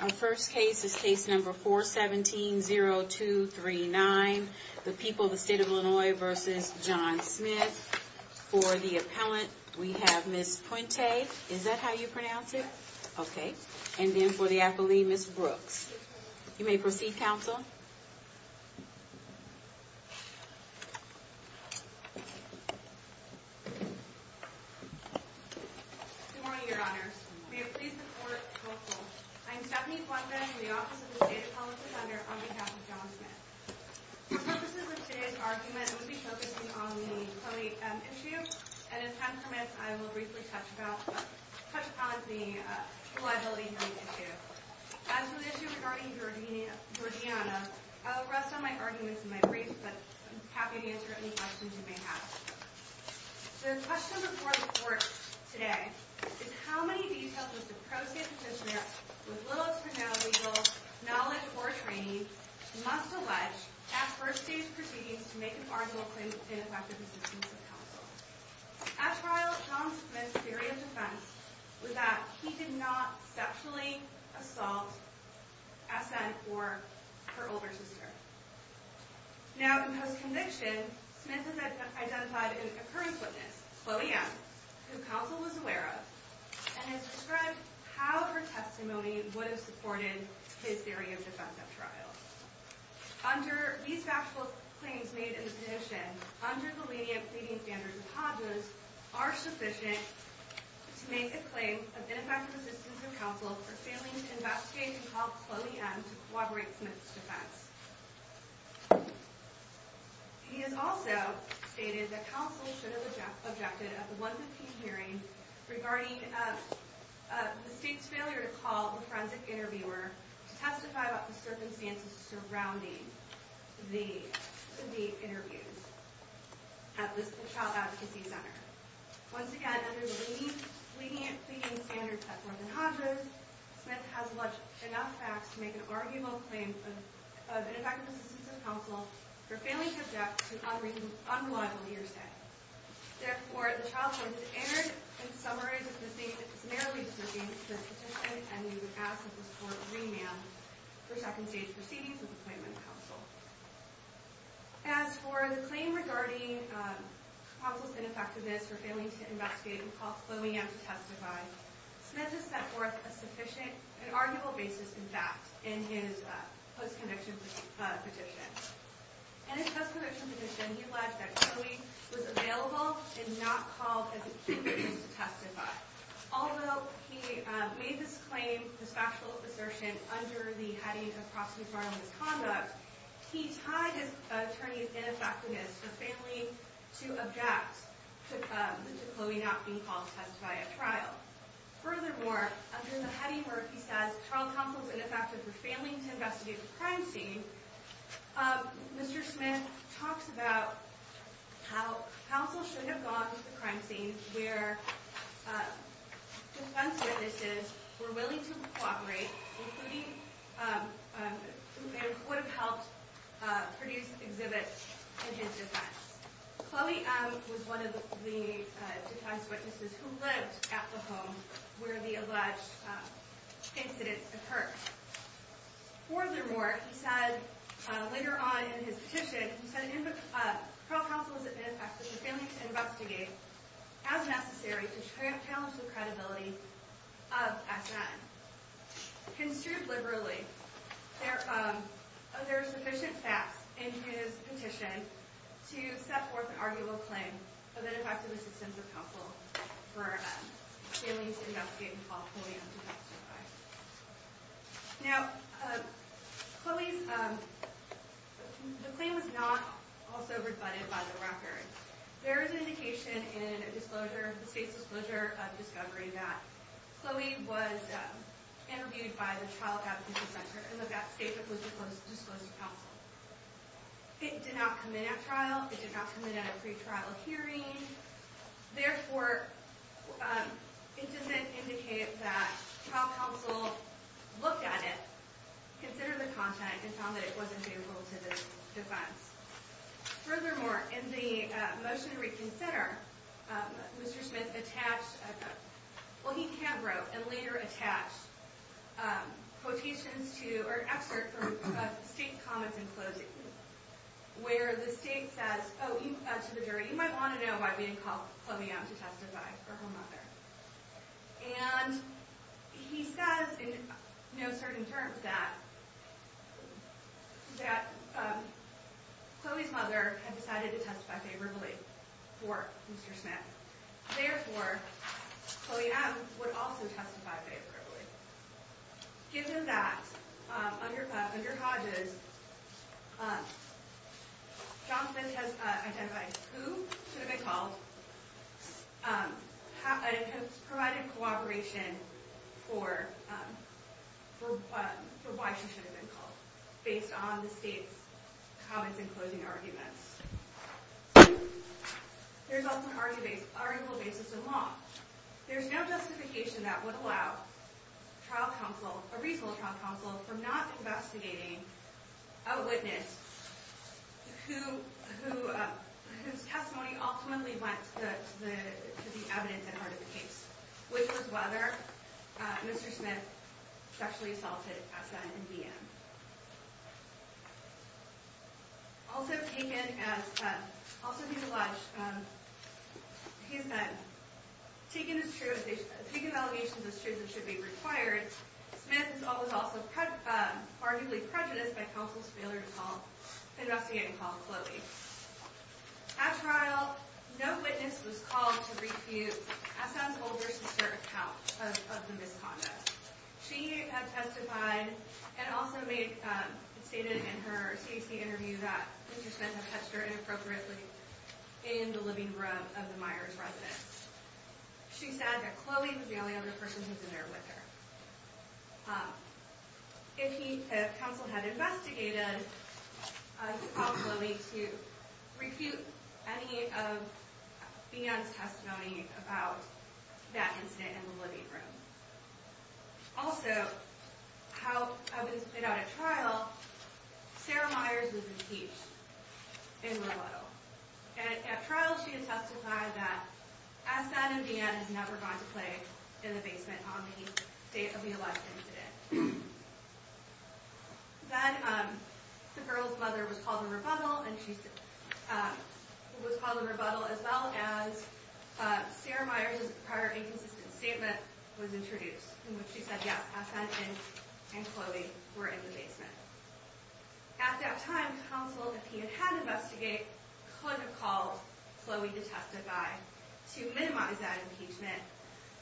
Our first case is case number 417-0239, The People of the State of Illinois v. John Smith. For the appellant, we have Ms. Puente. Is that how you pronounce it? Yes. Okay. And then for the athlete, Ms. Brooks. You may proceed, counsel. Good morning, Your Honors. May it please the Court, counsel. I am Stephanie Puente, from the Office of the State Appellant Defender, on behalf of John Smith. For purposes of today's argument, I will be focusing on the Tony issue, and if time permits, I will briefly touch upon the liability-free issue. As for the issue regarding Georgiana, I will rest on my arguments in my brief, but I'm happy to answer any questions you may have. The question before the Court today is, How many details does the pro-state petitioner, with little to no legal knowledge or training, must allege at first-stage proceedings to make an arguable claim to ineffective assistance of counsel? At trial, John Smith's theory of defense was that he did not sexually assault SN or her older sister. Now, in post-conviction, Smith has identified an occurrence witness, Chloe M., who counsel was aware of, and has described how her testimony would have supported his theory of defense at trial. These factual claims made in the petition, under the lenient pleading standards of Hodges, are sufficient to make a claim of ineffective assistance of counsel for failing to investigate and call Chloe M. to corroborate Smith's defense. He has also stated that counsel should have objected at the 115 hearing regarding the state's failure to call the forensic interviewer to testify about the circumstances surrounding the interviews at the Child Advocacy Center. Once again, under the lenient pleading standards set forth in Hodges, Smith has alleged enough facts to make an arguable claim of ineffective assistance of counsel for failing to object to unreliable hearsay. Therefore, the trial court has erred in the summary of the state's summarily decisions for the petition, and we would ask that the court remand for second-stage proceedings of the appointment of counsel. As for the claim regarding counsel's ineffectiveness for failing to investigate and call Chloe M. to testify, Smith has set forth a sufficient and arguable basis in fact in his post-conviction petition. In his post-conviction petition, he alleged that Chloe was available and not called as a key witness to testify. Although he made this claim, this factual assertion, under the heading of prosecutorial misconduct, he tied his attorney's ineffectiveness for failing to object to Chloe not being called to testify at trial. Furthermore, under the heading where he says, child counsel is ineffective for failing to investigate the crime scene, Mr. Smith talks about how counsel should have gone to the crime scene where defense witnesses were willing to cooperate, including who would have helped produce exhibits in his defense. Chloe M. was one of the defense witnesses who lived at the home where the alleged incident occurred. Furthermore, he said later on in his petition, he said child counsel is ineffective for failing to investigate as necessary to challenge the credibility of SN. Construed liberally, there are sufficient facts in his petition to set forth an arguable claim of ineffective assistance of counsel for failing to investigate and call Chloe not to testify. Now, Chloe's claim was not also rebutted by the record. There is indication in the state's disclosure of discovery that Chloe was interviewed by the Child Advocacy Center in the state that was disclosed to counsel. It did not come in at trial. It did not come in at a pretrial hearing. Therefore, it doesn't indicate that child counsel looked at it, considered the content, and found that it wasn't favorable to the defense. Furthermore, in the motion to reconsider, Mr. Smith attached, well, he hand-wrote and later attached quotations to or excerpts of state comments in closing where the state says, oh, to the jury, you might want to know why we didn't call Chloe out to testify for her mother. And he says in no certain terms that Chloe's mother had decided to testify favorably for Mr. Smith. Therefore, Chloe M. would also testify favorably. Given that, under Hodges, Johnson has identified who should have been called and has provided cooperation for why she should have been called based on the state's comments in closing arguments. There's also an article basis in law. There's no justification that would allow trial counsel, a reasonable trial counsel, for not investigating a witness whose testimony ultimately went to the evidence at heart of the case, which was whether Mr. Smith sexually assaulted Essa and Deanne. Also taken as, he said, taken as true, taken allegations as true that should be required, Smith was also arguably prejudiced by counsel's failure to investigate and call Chloe. At trial, no witness was called to refute Essa's older sister account of the misconduct. She had testified and also stated in her CAC interview that Mr. Smith had touched her inappropriately in the living room of the Myers residence. She said that Chloe was the only other person who had been there with her. If counsel had investigated, he called Chloe to refute any of Deanne's testimony about that incident in the living room. Also, how it was put out at trial, Sarah Myers was impeached in low level. At trial, she had testified that Essa and Deanne had never gone to play in the basement on the date of the alleged incident. Then, the girl's mother was called to rebuttal as well as Sarah Myers' prior inconsistent statement was introduced in which she said Essa and Chloe were in the basement. At that time, counsel, if he had had to investigate, could have called Chloe, the testify, to minimize that impeachment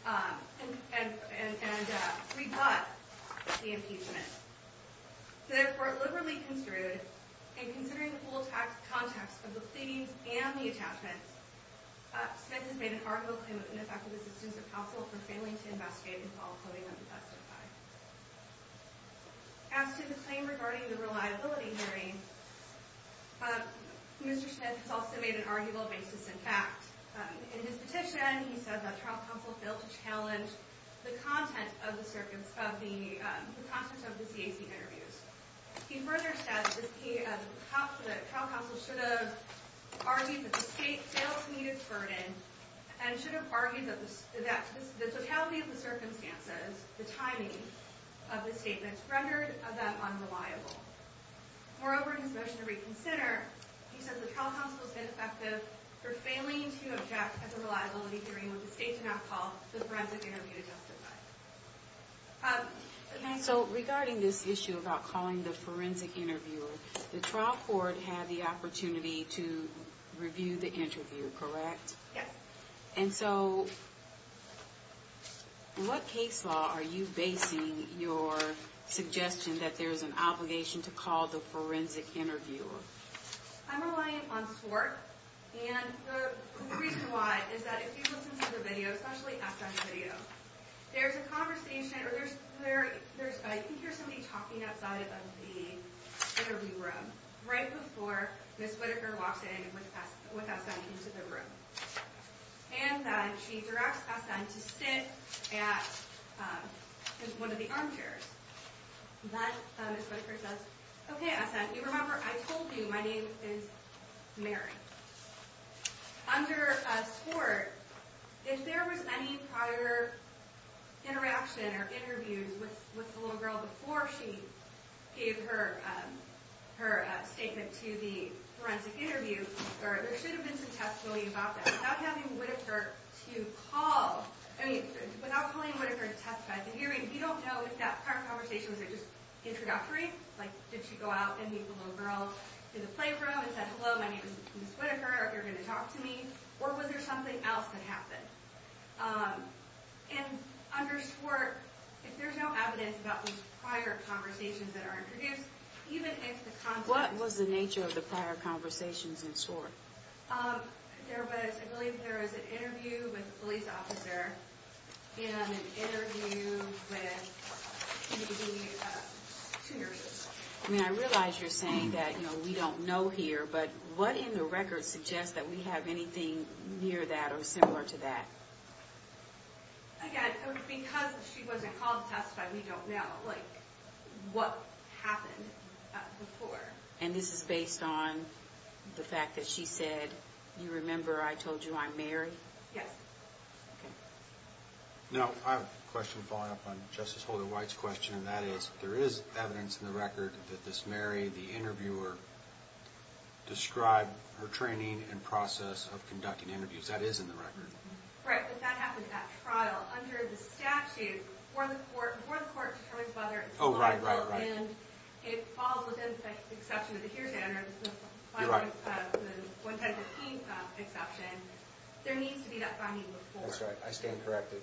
and rebut the impeachment. Therefore, liberally construed, and considering the full context of the themes and the attachments, Smith has made an arguable claim of ineffective assistance of counsel for failing to investigate and call Chloe not to testify. As to the claim regarding the reliability hearing, Mr. Smith has also made an arguable basis in fact. In his petition, he said that trial counsel failed to challenge the content of the CAC interviews. He further said that trial counsel should have argued that the state failed to meet its burden and should have argued that the totality of the circumstances, the timing of the statements, rendered them unreliable. Moreover, in his motion to reconsider, he said the trial counsel has been effective for failing to object at the reliability hearing when the state did not call the forensic interview to testify. So regarding this issue about calling the forensic interviewer, the trial court had the opportunity to review the interviewer, correct? Yes. And so, what case law are you basing your suggestion that there's an obligation to call the forensic interviewer? I'm relying on SWORC, and the reason why is that if you listen to the video, especially SN's video, there's a conversation, or there's, I think there's somebody talking outside of the interview room, right before Ms. Whitaker walks in with SN into the room. And she directs SN to sit at one of the armchairs. Then Ms. Whitaker says, Okay, SN, you remember I told you my name is Mary. Under SWORC, if there was any prior interaction or interviews with the little girl before she gave her statement to the forensic interviewer, there should have been some testimony about that. Without having Whitaker to call, I mean, without calling Whitaker to testify at the hearing, we don't know if that prior conversation was just introductory. Like, did she go out and meet the little girl in the playroom and say, Hello, my name is Ms. Whitaker, are you going to talk to me? Or was there something else that happened? And under SWORC, if there's no evidence about those prior conversations that are introduced, even if the conversation... What was the nature of the prior conversations in SWORC? There was, I believe there was an interview with a police officer and an interview with the two nurses. I realize you're saying that we don't know here, but what in the record suggests that we have anything near that or similar to that? Again, it was because she wasn't called to testify, we don't know what happened before. And this is based on the fact that she said, You remember I told you I'm Mary? Yes. Now, I have a question following up on Justice Holder-White's question, and that is, there is evidence in the record that this Mary, the interviewer, described her training and process of conducting interviews. That is in the record. Right, but that happened at trial. Under the statute, before the court determines whether... Oh, right, right, right. And it falls within the exception of the HEAR standards, the 11015 exception, there needs to be that finding before. That's right. I stand corrected.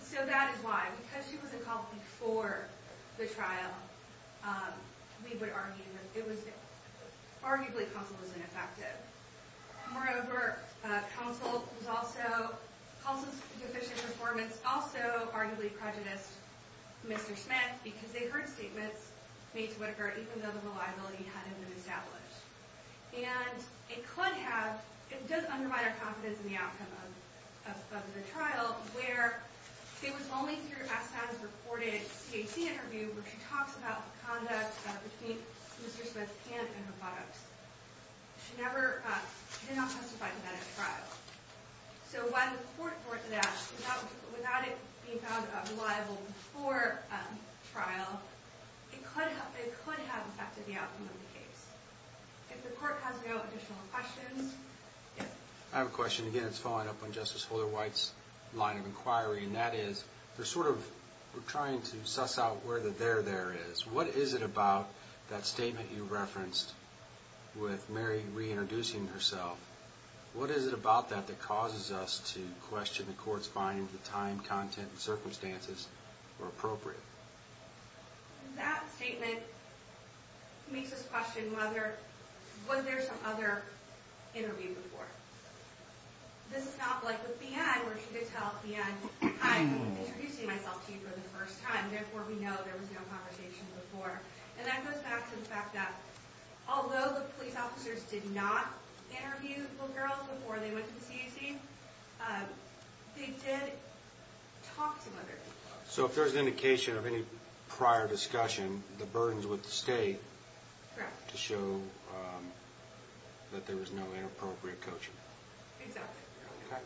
So that is why. Because she wasn't called before the trial, we would argue that it was arguably causal and ineffective. Moreover, causal deficient performance also arguably prejudiced Mr. Smith because they heard statements made to Whitaker even though the reliability hadn't been established. And it could have... It does undermine our confidence in the outcome of the trial where it was only through Assan's reported CHC interview where she talks about the conduct between Mr. Smith and her products. She did not testify to that at trial. So while the court thought that, without it being found reliable before trial, it could have affected the outcome of the case. If the court has no additional questions... I have a question. Again, it's following up on Justice Holder-White's line of inquiry. And that is, we're sort of... We're trying to suss out where the there-there is. What is it about that statement you referenced with Mary reintroducing herself? What is it about that that causes us to question the court's finding of the time, content, and circumstances or appropriate? That statement makes us question whether...was there some other interview before? This is not like with the end where she could tell at the end, hi, I'm introducing myself to you for the first time, therefore we know there was no conversation before. And that goes back to the fact that although the police officers did not interview the girls before they went to the CHC, they did talk to other people. So if there's an indication of any prior discussion, the burden's with the state... Correct. ...to show that there was no inappropriate coaching. Exactly. Okay.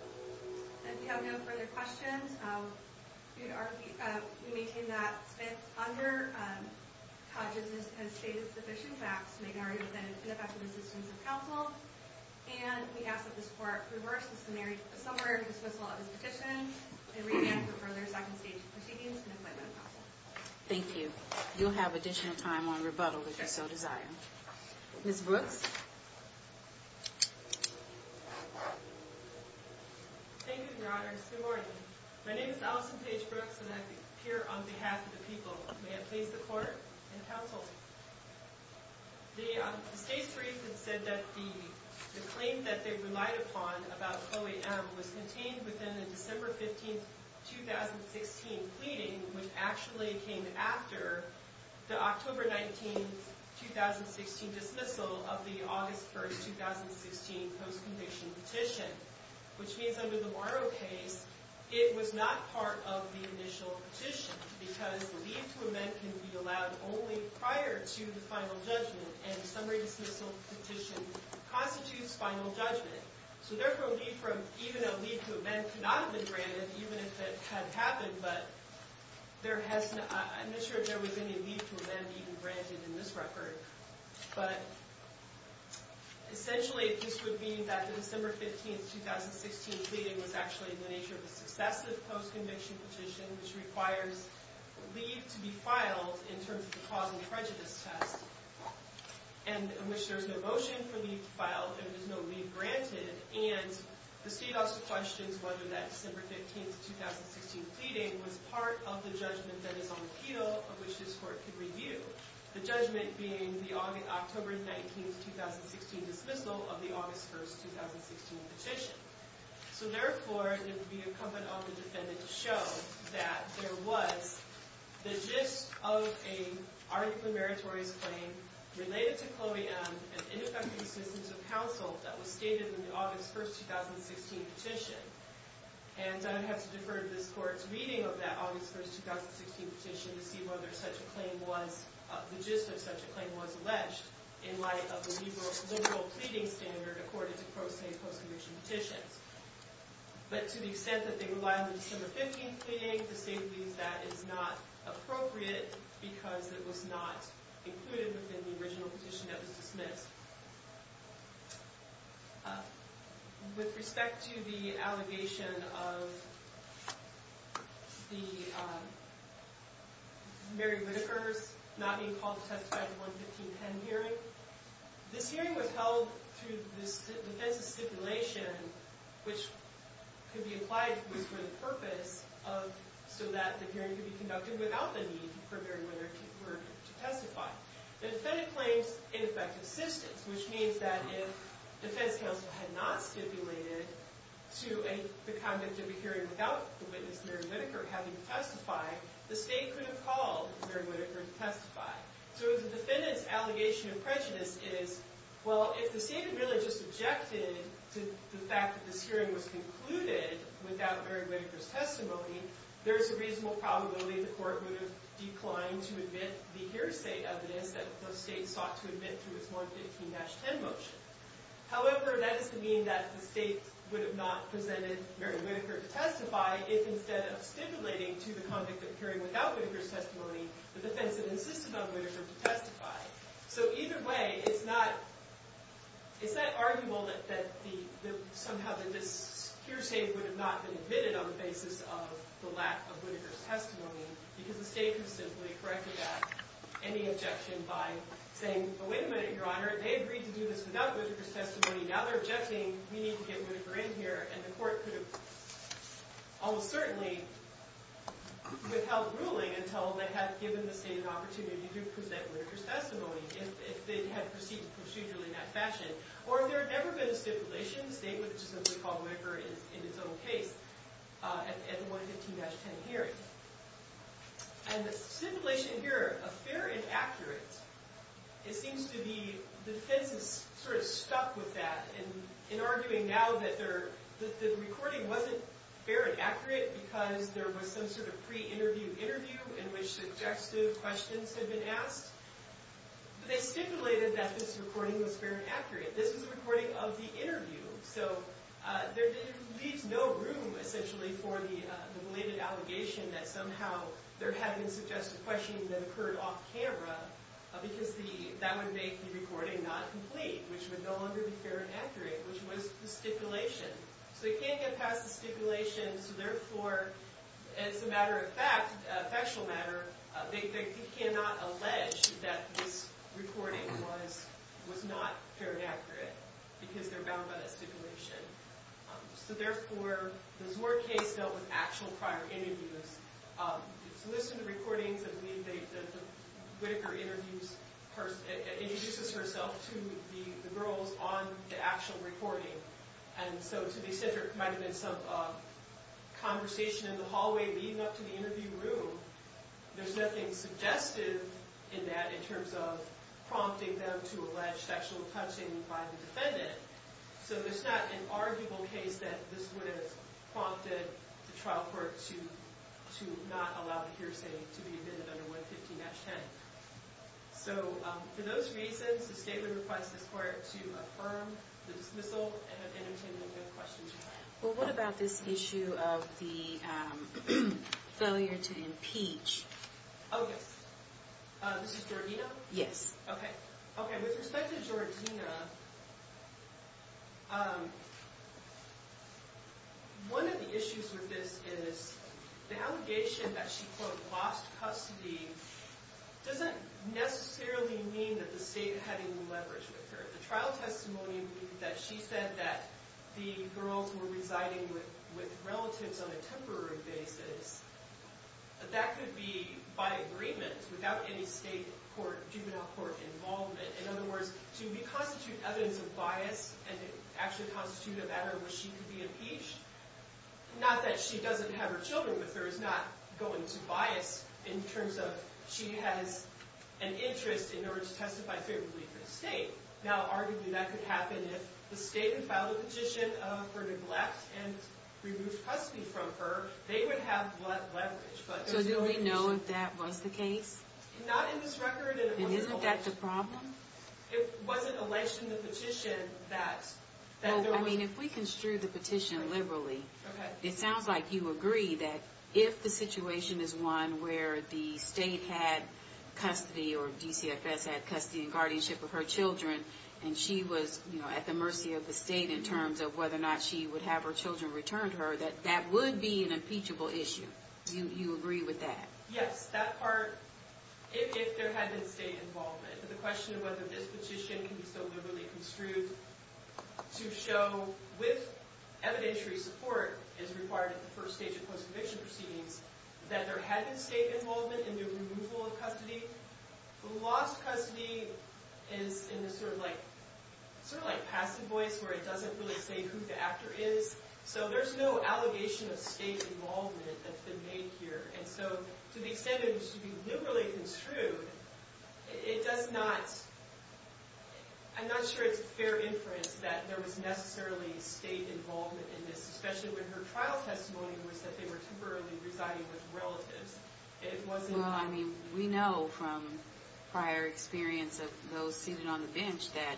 And if you have no further questions, we maintain that Smith's under colleges has stated sufficient facts to make an argument that it's ineffective assistance of counsel. And we ask that this court reverse the summary of the dismissal of his petition and revamp the further second stage proceedings and appointment of counsel. Thank you. You'll have additional time on rebuttal if you so desire. Sure. Ms. Brooks? Thank you, Your Honors. Good morning. My name is Allison Paige Brooks, and I'm here on behalf of the people. May I please the court and counsel? The state's brief had said that the claim that they relied upon about OAM was contained within the December 15, 2016, pleading, which actually came after the October 19, 2016, dismissal of the August 1, 2016, post-conviction petition, which means under the Morrow case, it was not part of the initial petition because the leave to amend can be allowed only prior to the final judgment, and summary dismissal petition constitutes final judgment. So therefore, leave from even a leave to amend cannot have been granted, even if it had happened, but there has not... I'm not sure if there was any leave to amend even granted in this record, but essentially, this would mean that the December 15, 2016, pleading was actually in the nature of a successive post-conviction petition, which requires leave to be filed in terms of the cause and prejudice test, and in which there's no motion for leave to file, and there's no leave granted, and the state also questions whether that December 15, 2016, pleading was part of the judgment that is on appeal, of which this court could review, the judgment being the October 19, 2016, dismissal of the August 1, 2016, petition. So therefore, it would be incumbent on the defendant to show that there was the gist of an article in meritorious claim related to Chloe M. and ineffective assistance of counsel that was stated in the August 1, 2016, petition. And I would have to defer to this court's reading of that August 1, 2016, petition to see whether such a claim was... the gist of such a claim was alleged in light of the liberal pleading standard according to pro se post-conviction petitions. But to the extent that they rely on the December 15, pleading, the state believes that is not appropriate because it was not included in the original petition that was dismissed. With respect to the allegation of the Mary Whitaker's not being called to testify in the 11510 hearing, this hearing was held through the defense of stipulation, which could be applied for the purpose so that the hearing could be conducted without the need for Mary Whitaker to testify. The defendant claims ineffective assistance, which means that if defense counsel had not stipulated to the conduct of a hearing without the witness Mary Whitaker having to testify, the state could have called Mary Whitaker to testify. So if the defendant's allegation of prejudice is, well, if the state had really just objected to the fact that this hearing was concluded without Mary Whitaker's testimony, there's a reasonable probability the court would have declined to admit the hearsay of this that the state sought to admit through its 115-10 motion. However, that is to mean that the state would have not presented Mary Whitaker to testify if instead of stipulating to the conduct of a hearing without Whitaker's testimony, the defendant insisted on Whitaker to testify. So either way, it's not... It's not arguable that somehow this hearsay would have not been admitted on the basis of the lack of Whitaker's testimony because the state could have simply corrected that, any objection by saying, oh, wait a minute, Your Honor. They agreed to do this without Whitaker's testimony. Now they're objecting. We need to get Whitaker in here. And the court could have almost certainly withheld ruling until they had given the state an opportunity to present Whitaker's testimony if they had proceeded procedurally in that fashion. Or if there had never been a stipulation, the state would have just simply called Whitaker in its own case at the 115-10 hearing. And the stipulation here, a fair and accurate, it seems to be the defense is sort of stuck with that in arguing now that the recording wasn't fair and accurate because there was some sort of pre-interview interview in which suggestive questions had been asked. But they stipulated that this recording was fair and accurate. This was a recording of the interview. So it leaves no room, essentially, for the related allegation that somehow there had been suggestive questions that occurred off-camera because that would make the recording not complete, which would no longer be fair and accurate, which was the stipulation. So they can't get past the stipulation. So therefore, as a matter of fact, a factual matter, that this recording was not fair and accurate because they're bound by that stipulation. So therefore, the Zord case dealt with actual prior interviews. It's listed in the recordings that Whittaker introduces herself to the girls on the actual recording. And so to the extent there might have been some conversation in the hallway leading up to the interview room, there's nothing suggestive in that in terms of prompting them to allege sexual touching by the defendant. So there's not an arguable case that this would have prompted the trial court to not allow the hearsay to be admitted under 115-10. So for those reasons, the state would request this court to affirm the dismissal and entertain any questions. Well, what about this issue of the failure to impeach? Oh, yes. This is Jordina? Yes. Okay. Okay, with respect to Jordina... One of the issues with this is the allegation that she, quote, lost custody doesn't necessarily mean that the state had any leverage with her. The trial testimony that she said that the girls were residing with relatives on a temporary basis, that could be by agreement, without any state juvenile court involvement. In other words, to reconstitute evidence of bias and to actually constitute a matter where she could be impeached, not that she doesn't have her children with her, is not going to bias in terms of she has an interest in order to testify favorably for the state. Now, arguably, that could happen if the state had filed a petition of her neglect and removed custody from her, they would have leverage. So do we know if that was the case? Not in this record. And isn't that the problem? It wasn't alleged in the petition that... I mean, if we construe the petition liberally, it sounds like you agree that if the situation is one where the state had custody or DCFS had custody and guardianship of her children and she was at the mercy of the state in terms of whether or not she would have her children returned to her, that that would be an impeachable issue. Do you agree with that? Yes, that part... If there had been state involvement. The question of whether this petition can be so liberally construed to show with evidentiary support as required at the first stage of post-conviction proceedings that there had been state involvement in the removal of custody. The lost custody is in a sort of like... sort of like passive voice where it doesn't really say who the actor is. So there's no allegation of state involvement that's been made here. And so to the extent it should be liberally construed, it does not... I'm not sure it's fair inference that there was necessarily state involvement in this, especially when her trial testimony was that they were temporarily residing with relatives. It wasn't... Well, I mean, we know from prior experience of those seated on the bench that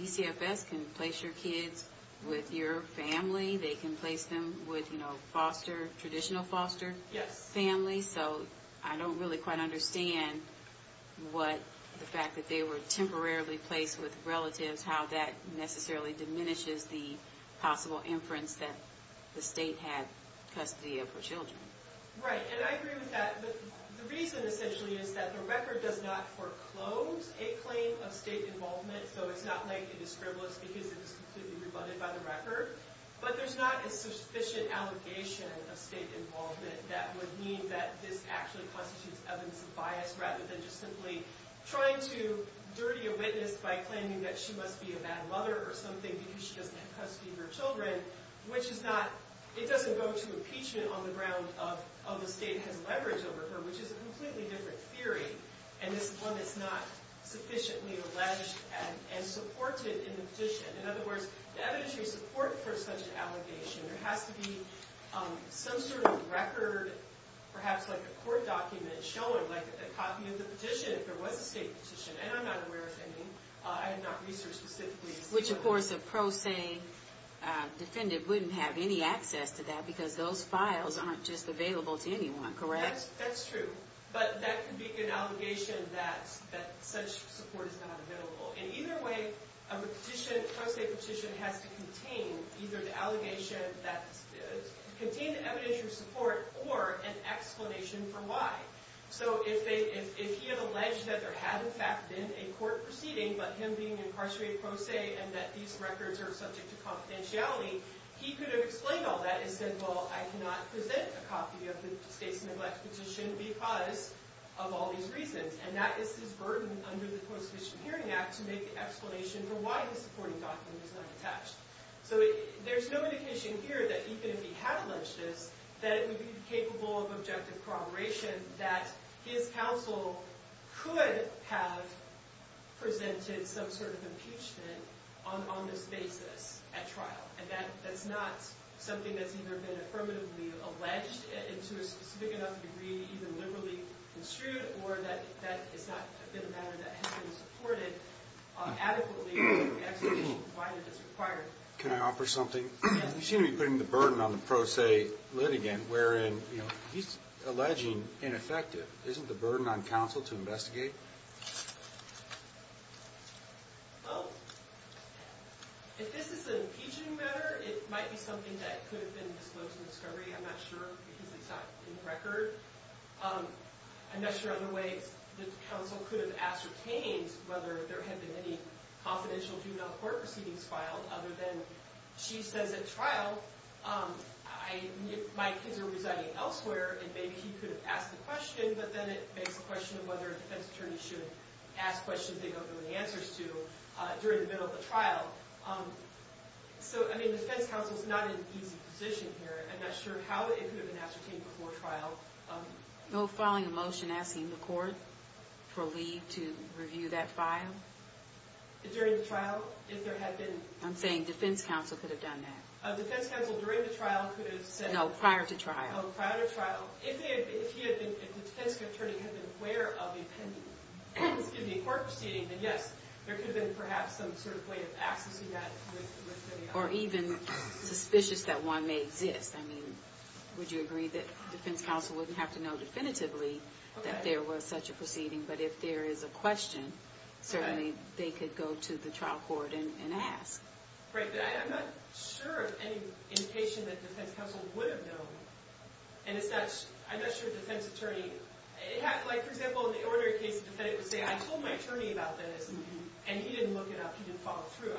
DCFS can place your kids with your family. They can place them with, you know, foster... traditional foster family. So I don't really quite understand what the fact that they were temporarily placed with relatives, how that necessarily diminishes the possible inference that the state had custody of her children. Right, and I agree with that. But the reason, essentially, is that the record does not foreclose a claim of state involvement. So it's not likely to scribble us because it was completely rebutted by the record. But there's not a sufficient allegation of state involvement that would mean that this actually constitutes evidence of bias rather than just simply trying to dirty a witness by claiming that she must be a bad mother or something because she doesn't have custody of her children, which is not... It doesn't go to impeachment on the ground of the state has leverage over her, which is a completely different theory. And this one is not sufficiently alleged and supported in the petition. In other words, the evidentiary support for such an allegation, there has to be some sort of record, perhaps like a court document, showing, like, a copy of the petition if there was a state petition. And I'm not aware of any. I have not researched specifically... Which, of course, a pro se defendant wouldn't have any access to that because those files aren't just available to anyone, correct? That's true. But that could be an allegation that such support is not available. In either way, a pro se petition has to contain either the allegation that... contain the evidentiary support or an explanation for why. So if he had alleged that there had, in fact, been a court proceeding but him being incarcerated pro se and that these records are subject to confidentiality, he could have explained all that and said, well, I cannot present a copy of the state's neglected petition because of all these reasons. And that is his burden under the Constitutional Hearing Act to make an explanation for why his supporting document is not attached. So there's no indication here that even if he had alleged this, that it would be capable of objective corroboration, that his counsel could have presented some sort of impeachment on this basis at trial. And that's not something that's either been affirmatively alleged to a specific enough degree, even liberally construed, or that it's not been a matter that has been supported adequately for the explanation of why it is required. Can I offer something? You seem to be putting the burden on the pro se litigant, wherein he's alleging ineffective. Isn't the burden on counsel to investigate? Well, if this is an impeachment matter, it might be something that could have been disclosed in discovery. I'm not sure because it's not in the record. I'm not sure on the way that counsel could have ascertained whether there had been any confidential juvenile court proceedings filed other than she says at trial, my kids are residing elsewhere, and maybe he could have asked the question, but then it begs the question of whether a defense attorney should ask questions they don't know the answers to during the middle of the trial. So, I mean, the defense counsel is not in an easy position here. I'm not sure how it could have been ascertained before trial. No filing a motion asking the court for leave to review that file? During the trial? If there had been... I'm saying defense counsel could have done that. A defense counsel during the trial could have said... No, prior to trial. Oh, prior to trial. If the defense attorney had been aware of a court proceeding, then yes, there could have been perhaps some sort of way of accessing that. Or even suspicious that one may exist. I mean, would you agree that defense counsel wouldn't have to know definitively that there was such a proceeding, but if there is a question, certainly they could go to the trial court and ask. Right, but I'm not sure of any indication that defense counsel would have known. And as such, I'm not sure a defense attorney... Like, for example, in the ordinary case, the defendant would say, I told my attorney about this, and he didn't look it up, he didn't follow through.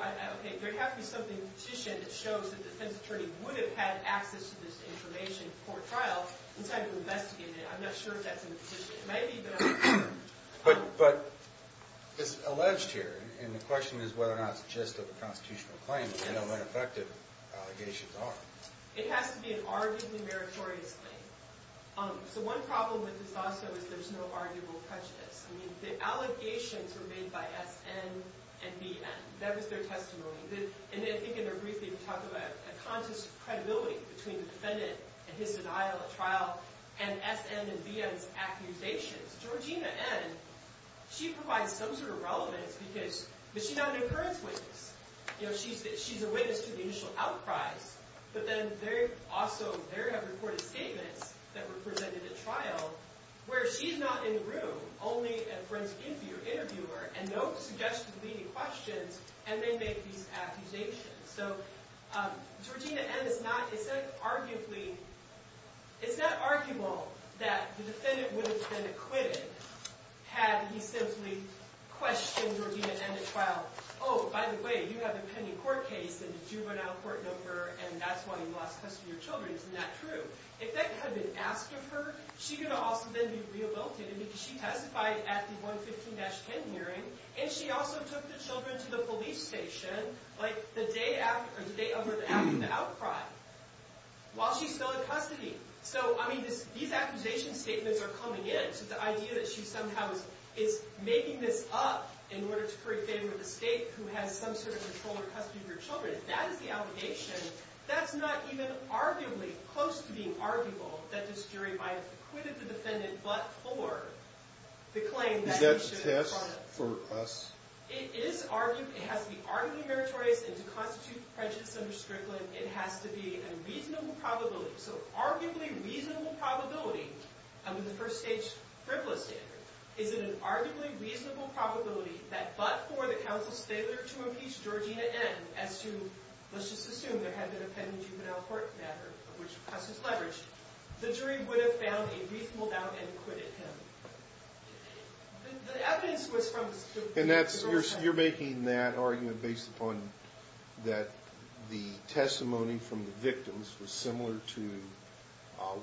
There'd have to be something in the petition that shows that the defense attorney would have had access to this information at court trial inside of an investigation. I'm not sure if that's in the petition. But it's alleged here, and the question is whether or not it's just a constitutional claim and how ineffective allegations are. It has to be an arguably meritorious claim. So one problem with this also is there's no arguable prejudice. I mean, the allegations were made by S.N. and B.N. That was their testimony. And I think in their briefing they talk about a conscious credibility between the defendant and his denial at trial and S.N. and B.N.'s accusations. Georgina N., she provides some sort of relevance because... But she's not an occurrence witness. You know, she's a witness to the initial outcries, but then they're also... They have reported statements that were presented at trial where she's not in the room, only a forensic interviewer, and no suggested leading questions, and they make these accusations. So Georgina N. is not... It's not arguable that the defendant would have been acquitted had he simply questioned Georgina N. at trial. Oh, by the way, you have a pending court case and a juvenile court number and that's why you lost custody of your children. Isn't that true? If that could have been asked of her, she could have also been rehabilitated because she testified at the 115-10 hearing and she also took the children to the police station the day after the outcry while she's still in custody. So, I mean, these accusation statements are coming in. The idea that she somehow is making this up in order to free a family estate who has some sort of control or custody of their children, that is the allegation. That's not even arguably close to being arguable that this jury might have acquitted the defendant but for the claim that... Is that a test for us? It is arguable. It has to be arguably meritorious and to constitute prejudice under Strickland, it has to be a reasonable probability. So arguably reasonable probability, under the first stage frivolous standard, is it an arguably reasonable probability that but for the counsel's failure to impeach Georgina N. as to let's just assume there had been a pending juvenile court matter which Custis leveraged, the jury would have found a reasonable doubt and acquitted him. The evidence was from... You're making that argument based upon that the testimony from the victims was similar to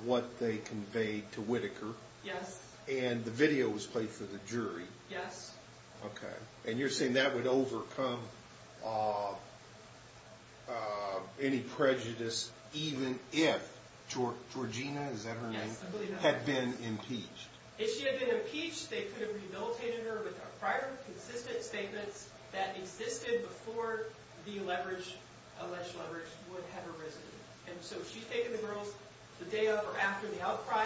what they conveyed to Whitaker. Yes. And the video was played for the jury. Yes. Okay. And you're saying that would overcome any prejudice even if Georgina, is that her name? Yes. Had been impeached. If she had been impeached, they could have rehabilitated her with a prior consistent statement that existed before the leverage, alleged leverage, would have arisen. And so she's taken the girls the day of or after the outcry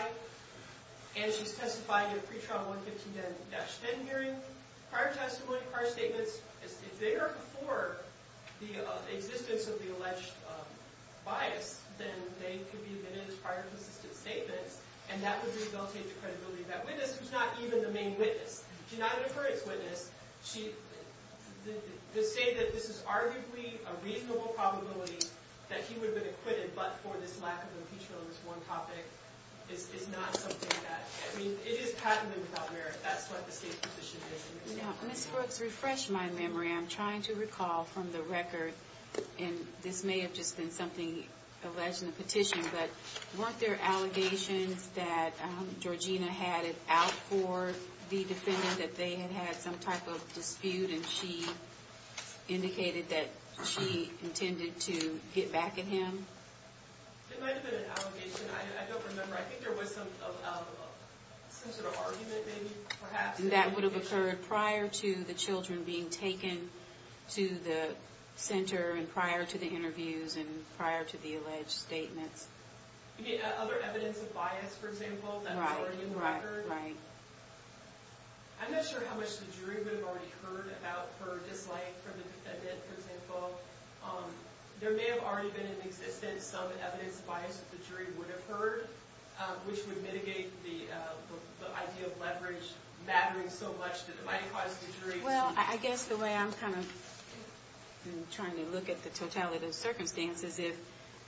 and she's testified in a pretrial 115-10 hearing prior testimony, prior statements. If they are before the existence of the alleged bias, then they could be admitted as prior consistent statements and that would rehabilitate the credibility of that witness who's not even the main witness. She's not an occurrence witness. To say that this is arguably a reasonable probability that he would have been acquitted but for this lack of impeachment on this one topic is not something that, I mean, it is patently without merit. That's what the state petition is. Now, Ms. Brooks, refresh my memory. I'm trying to recall from the record, and this may have just been something alleged in the petition, but weren't there allegations that Georgina had it out for the defendant that they had had some type of dispute and she indicated that she intended to get back at him? It might have been an allegation. I don't remember. I think there was some sort of argument maybe, perhaps. And that would have occurred prior to the children being taken to the center and prior to the interviews and prior to the alleged statements. You mean other evidence of bias, for example, that was already in the record? Right. I'm not sure how much the jury would have already heard about her dislike for the defendant, for example. There may have already been in existence some evidence of bias that the jury would have heard, which would mitigate the idea of leverage mattering so much that it might cause the jury to... Well, I guess the way I'm kind of trying to look at the totality of the circumstances is if,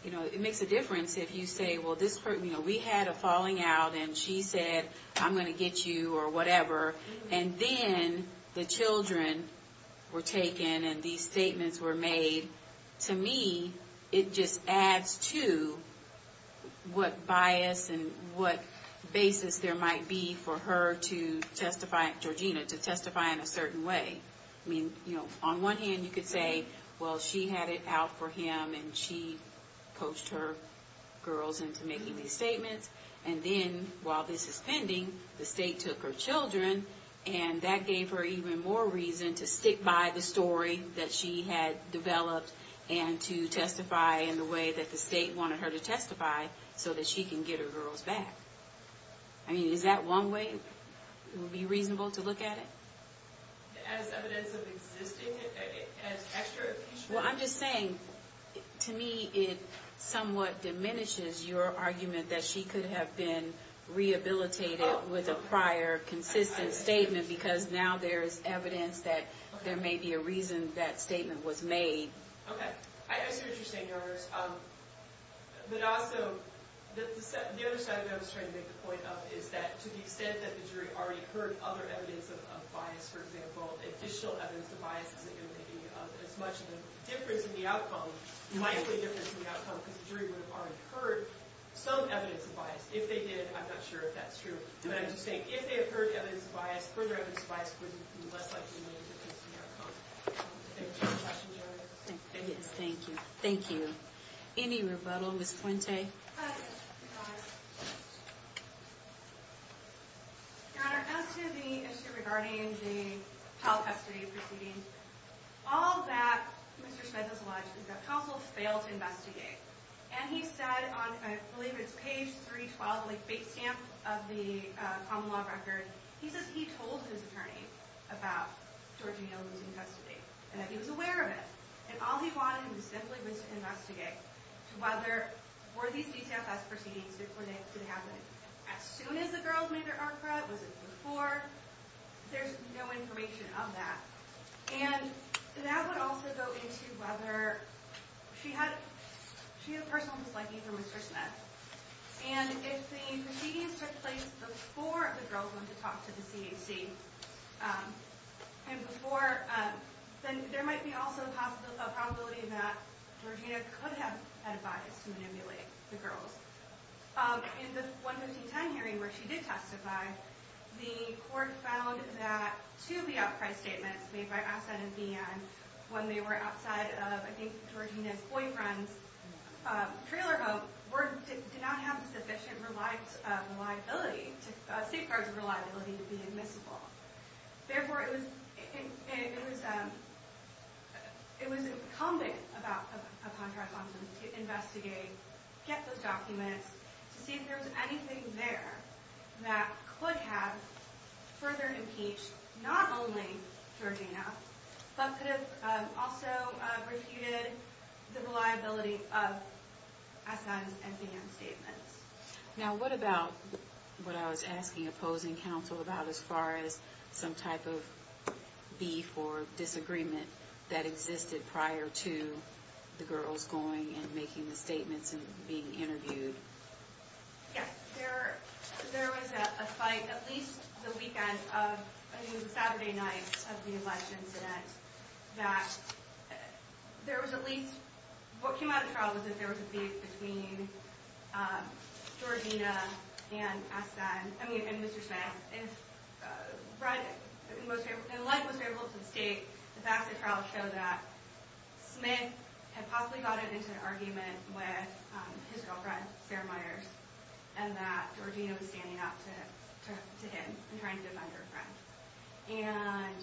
you know, it makes a difference if you say, well, this person, you know, we had a falling out and she said I'm going to get you or whatever and then the children were taken and these statements were made. To me, it just adds to what bias and what basis there might be for her to testify, Georgina, to testify in a certain way. I mean, you know, on one hand you could say well, she had it out for him and she coached her girls into making these statements and then while this is pending, the state took her children and that gave her even more reason to stick by the story that she had developed and to testify in the way that the state wanted her to testify so that she can get her girls back. I mean, is that one way it would be reasonable to look at it? As evidence of existing, as extra... Well, I'm just saying to me it somewhat diminishes your argument that she could have been rehabilitated with a prior consistent statement because now there is evidence that there may be a reason that statement was made. Okay. I see what you're saying, Your Honor. But also the other side of that I was trying to make the point of is that to the extent that the jury already heard other evidence of bias, for example, additional evidence of bias isn't going to make as much of a difference in the outcome, likely difference in the outcome, because the jury would have already heard some evidence of bias. If they did, I'm not sure if that's true. But I'm just saying, if they had heard evidence of bias, further evidence of bias would be less likely to make a difference in the outcome. Thank you. Thank you. Any rebuttal, Ms. Puente? Your Honor, as to the issue regarding the trial custody proceeding, all that Mr. Schmitz has alleged is that counsel failed to investigate. And he said on, I believe it's page 312, the base stamp of the case, that he told his attorney about George O'Neill losing custody, and that he was aware of it. And all he wanted was simply to investigate whether, were these DCFS proceedings to happen as soon as the girls made their ARCRA? Was it before? There's no information of that. And that would also go into whether she had personal disliking for Mr. Schmitz. And if the proceedings took place before the girls went to talk to the CAC, and before, then there might be also a possibility that Georgina could have had a bias to manipulate the girls. In the 11510 hearing, where she did testify, the court found that two of the outcry statements made by Assett and Behan, when they were outside of, I think, Georgina's boyfriend's trailer home, did not have the sufficient reliability, safeguards of reliability to be admissible. Therefore, it was incumbent upon her to investigate, get those documents, to see if there was anything there that could have further impeached not only Georgina, but could have also refuted the reliability of Assett Now what about what I was asking opposing counsel about as far as some type of beef or disagreement that existed prior to the girls going and making the statements and being interviewed? Yes. There was a fight at least the weekend of that there was at least what came out of trial was that there was a beef between Georgina and Mr. Smith and like most variables of the state, the facts of the trial show that Smith had possibly gotten into an argument with his girlfriend Sarah Myers and that Georgina was standing up to him and trying to defend her friend and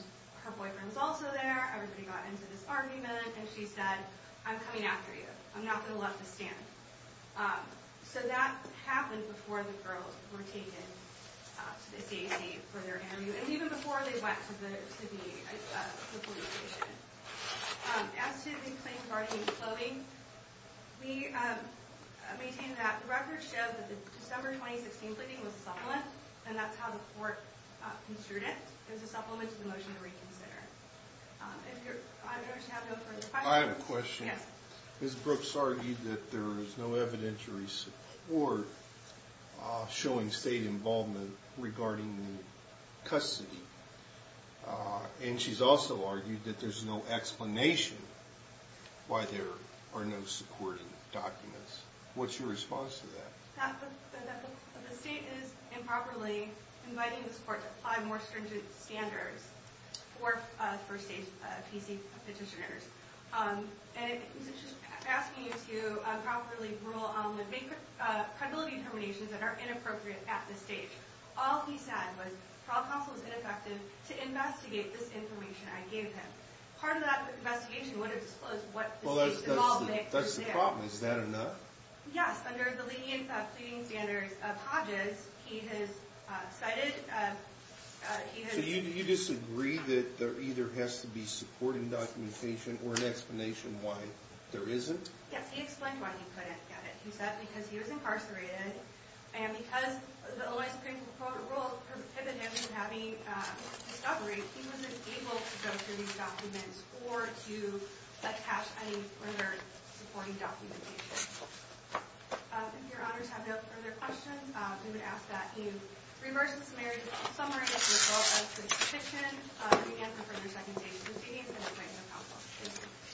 her boyfriend was also there, everybody got into this argument and she said, I'm coming after you, I'm not going to let this stand. So that happened before the girls were taken to the CAC for their interview and even before they went to the police station. As to the claims regarding the clothing, we maintain that the record shows that the December 2016 clothing was a supplement and that's how the court construed it. It was a supplement to the motion to reconsider. I have a question. Ms. Brooks argued that there was no evidentiary support showing state involvement regarding the custody and she's also argued that there's no explanation why there are no supporting documents. What's your response to that? The state is improperly inviting this court to apply more stringent standards for first-stage PC petitioners and it's just asking you to properly rule on the credibility determinations that are inappropriate at this stage. All he said was trial counsel was ineffective to investigate this information I gave him. Part of that investigation would have disclosed what the state involvement was there. Is that enough? Yes, under the lenience of pleading standards of Hodges, he has cited So you disagree that there either has to be supporting documentation or an explanation why there isn't? Yes, he explained why he couldn't get it. He said because he was incarcerated and because the LA Supreme Court rule prohibited him from having discovery, he wasn't able to go through these documents or to attach any further supporting documentation. If your honors have no further questions, we would ask that you reverse the summary as a result of the petition and confirm your second-stage PC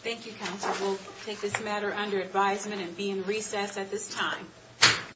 Thank you, counsel. We'll take this matter under advisement and be in recess at this time.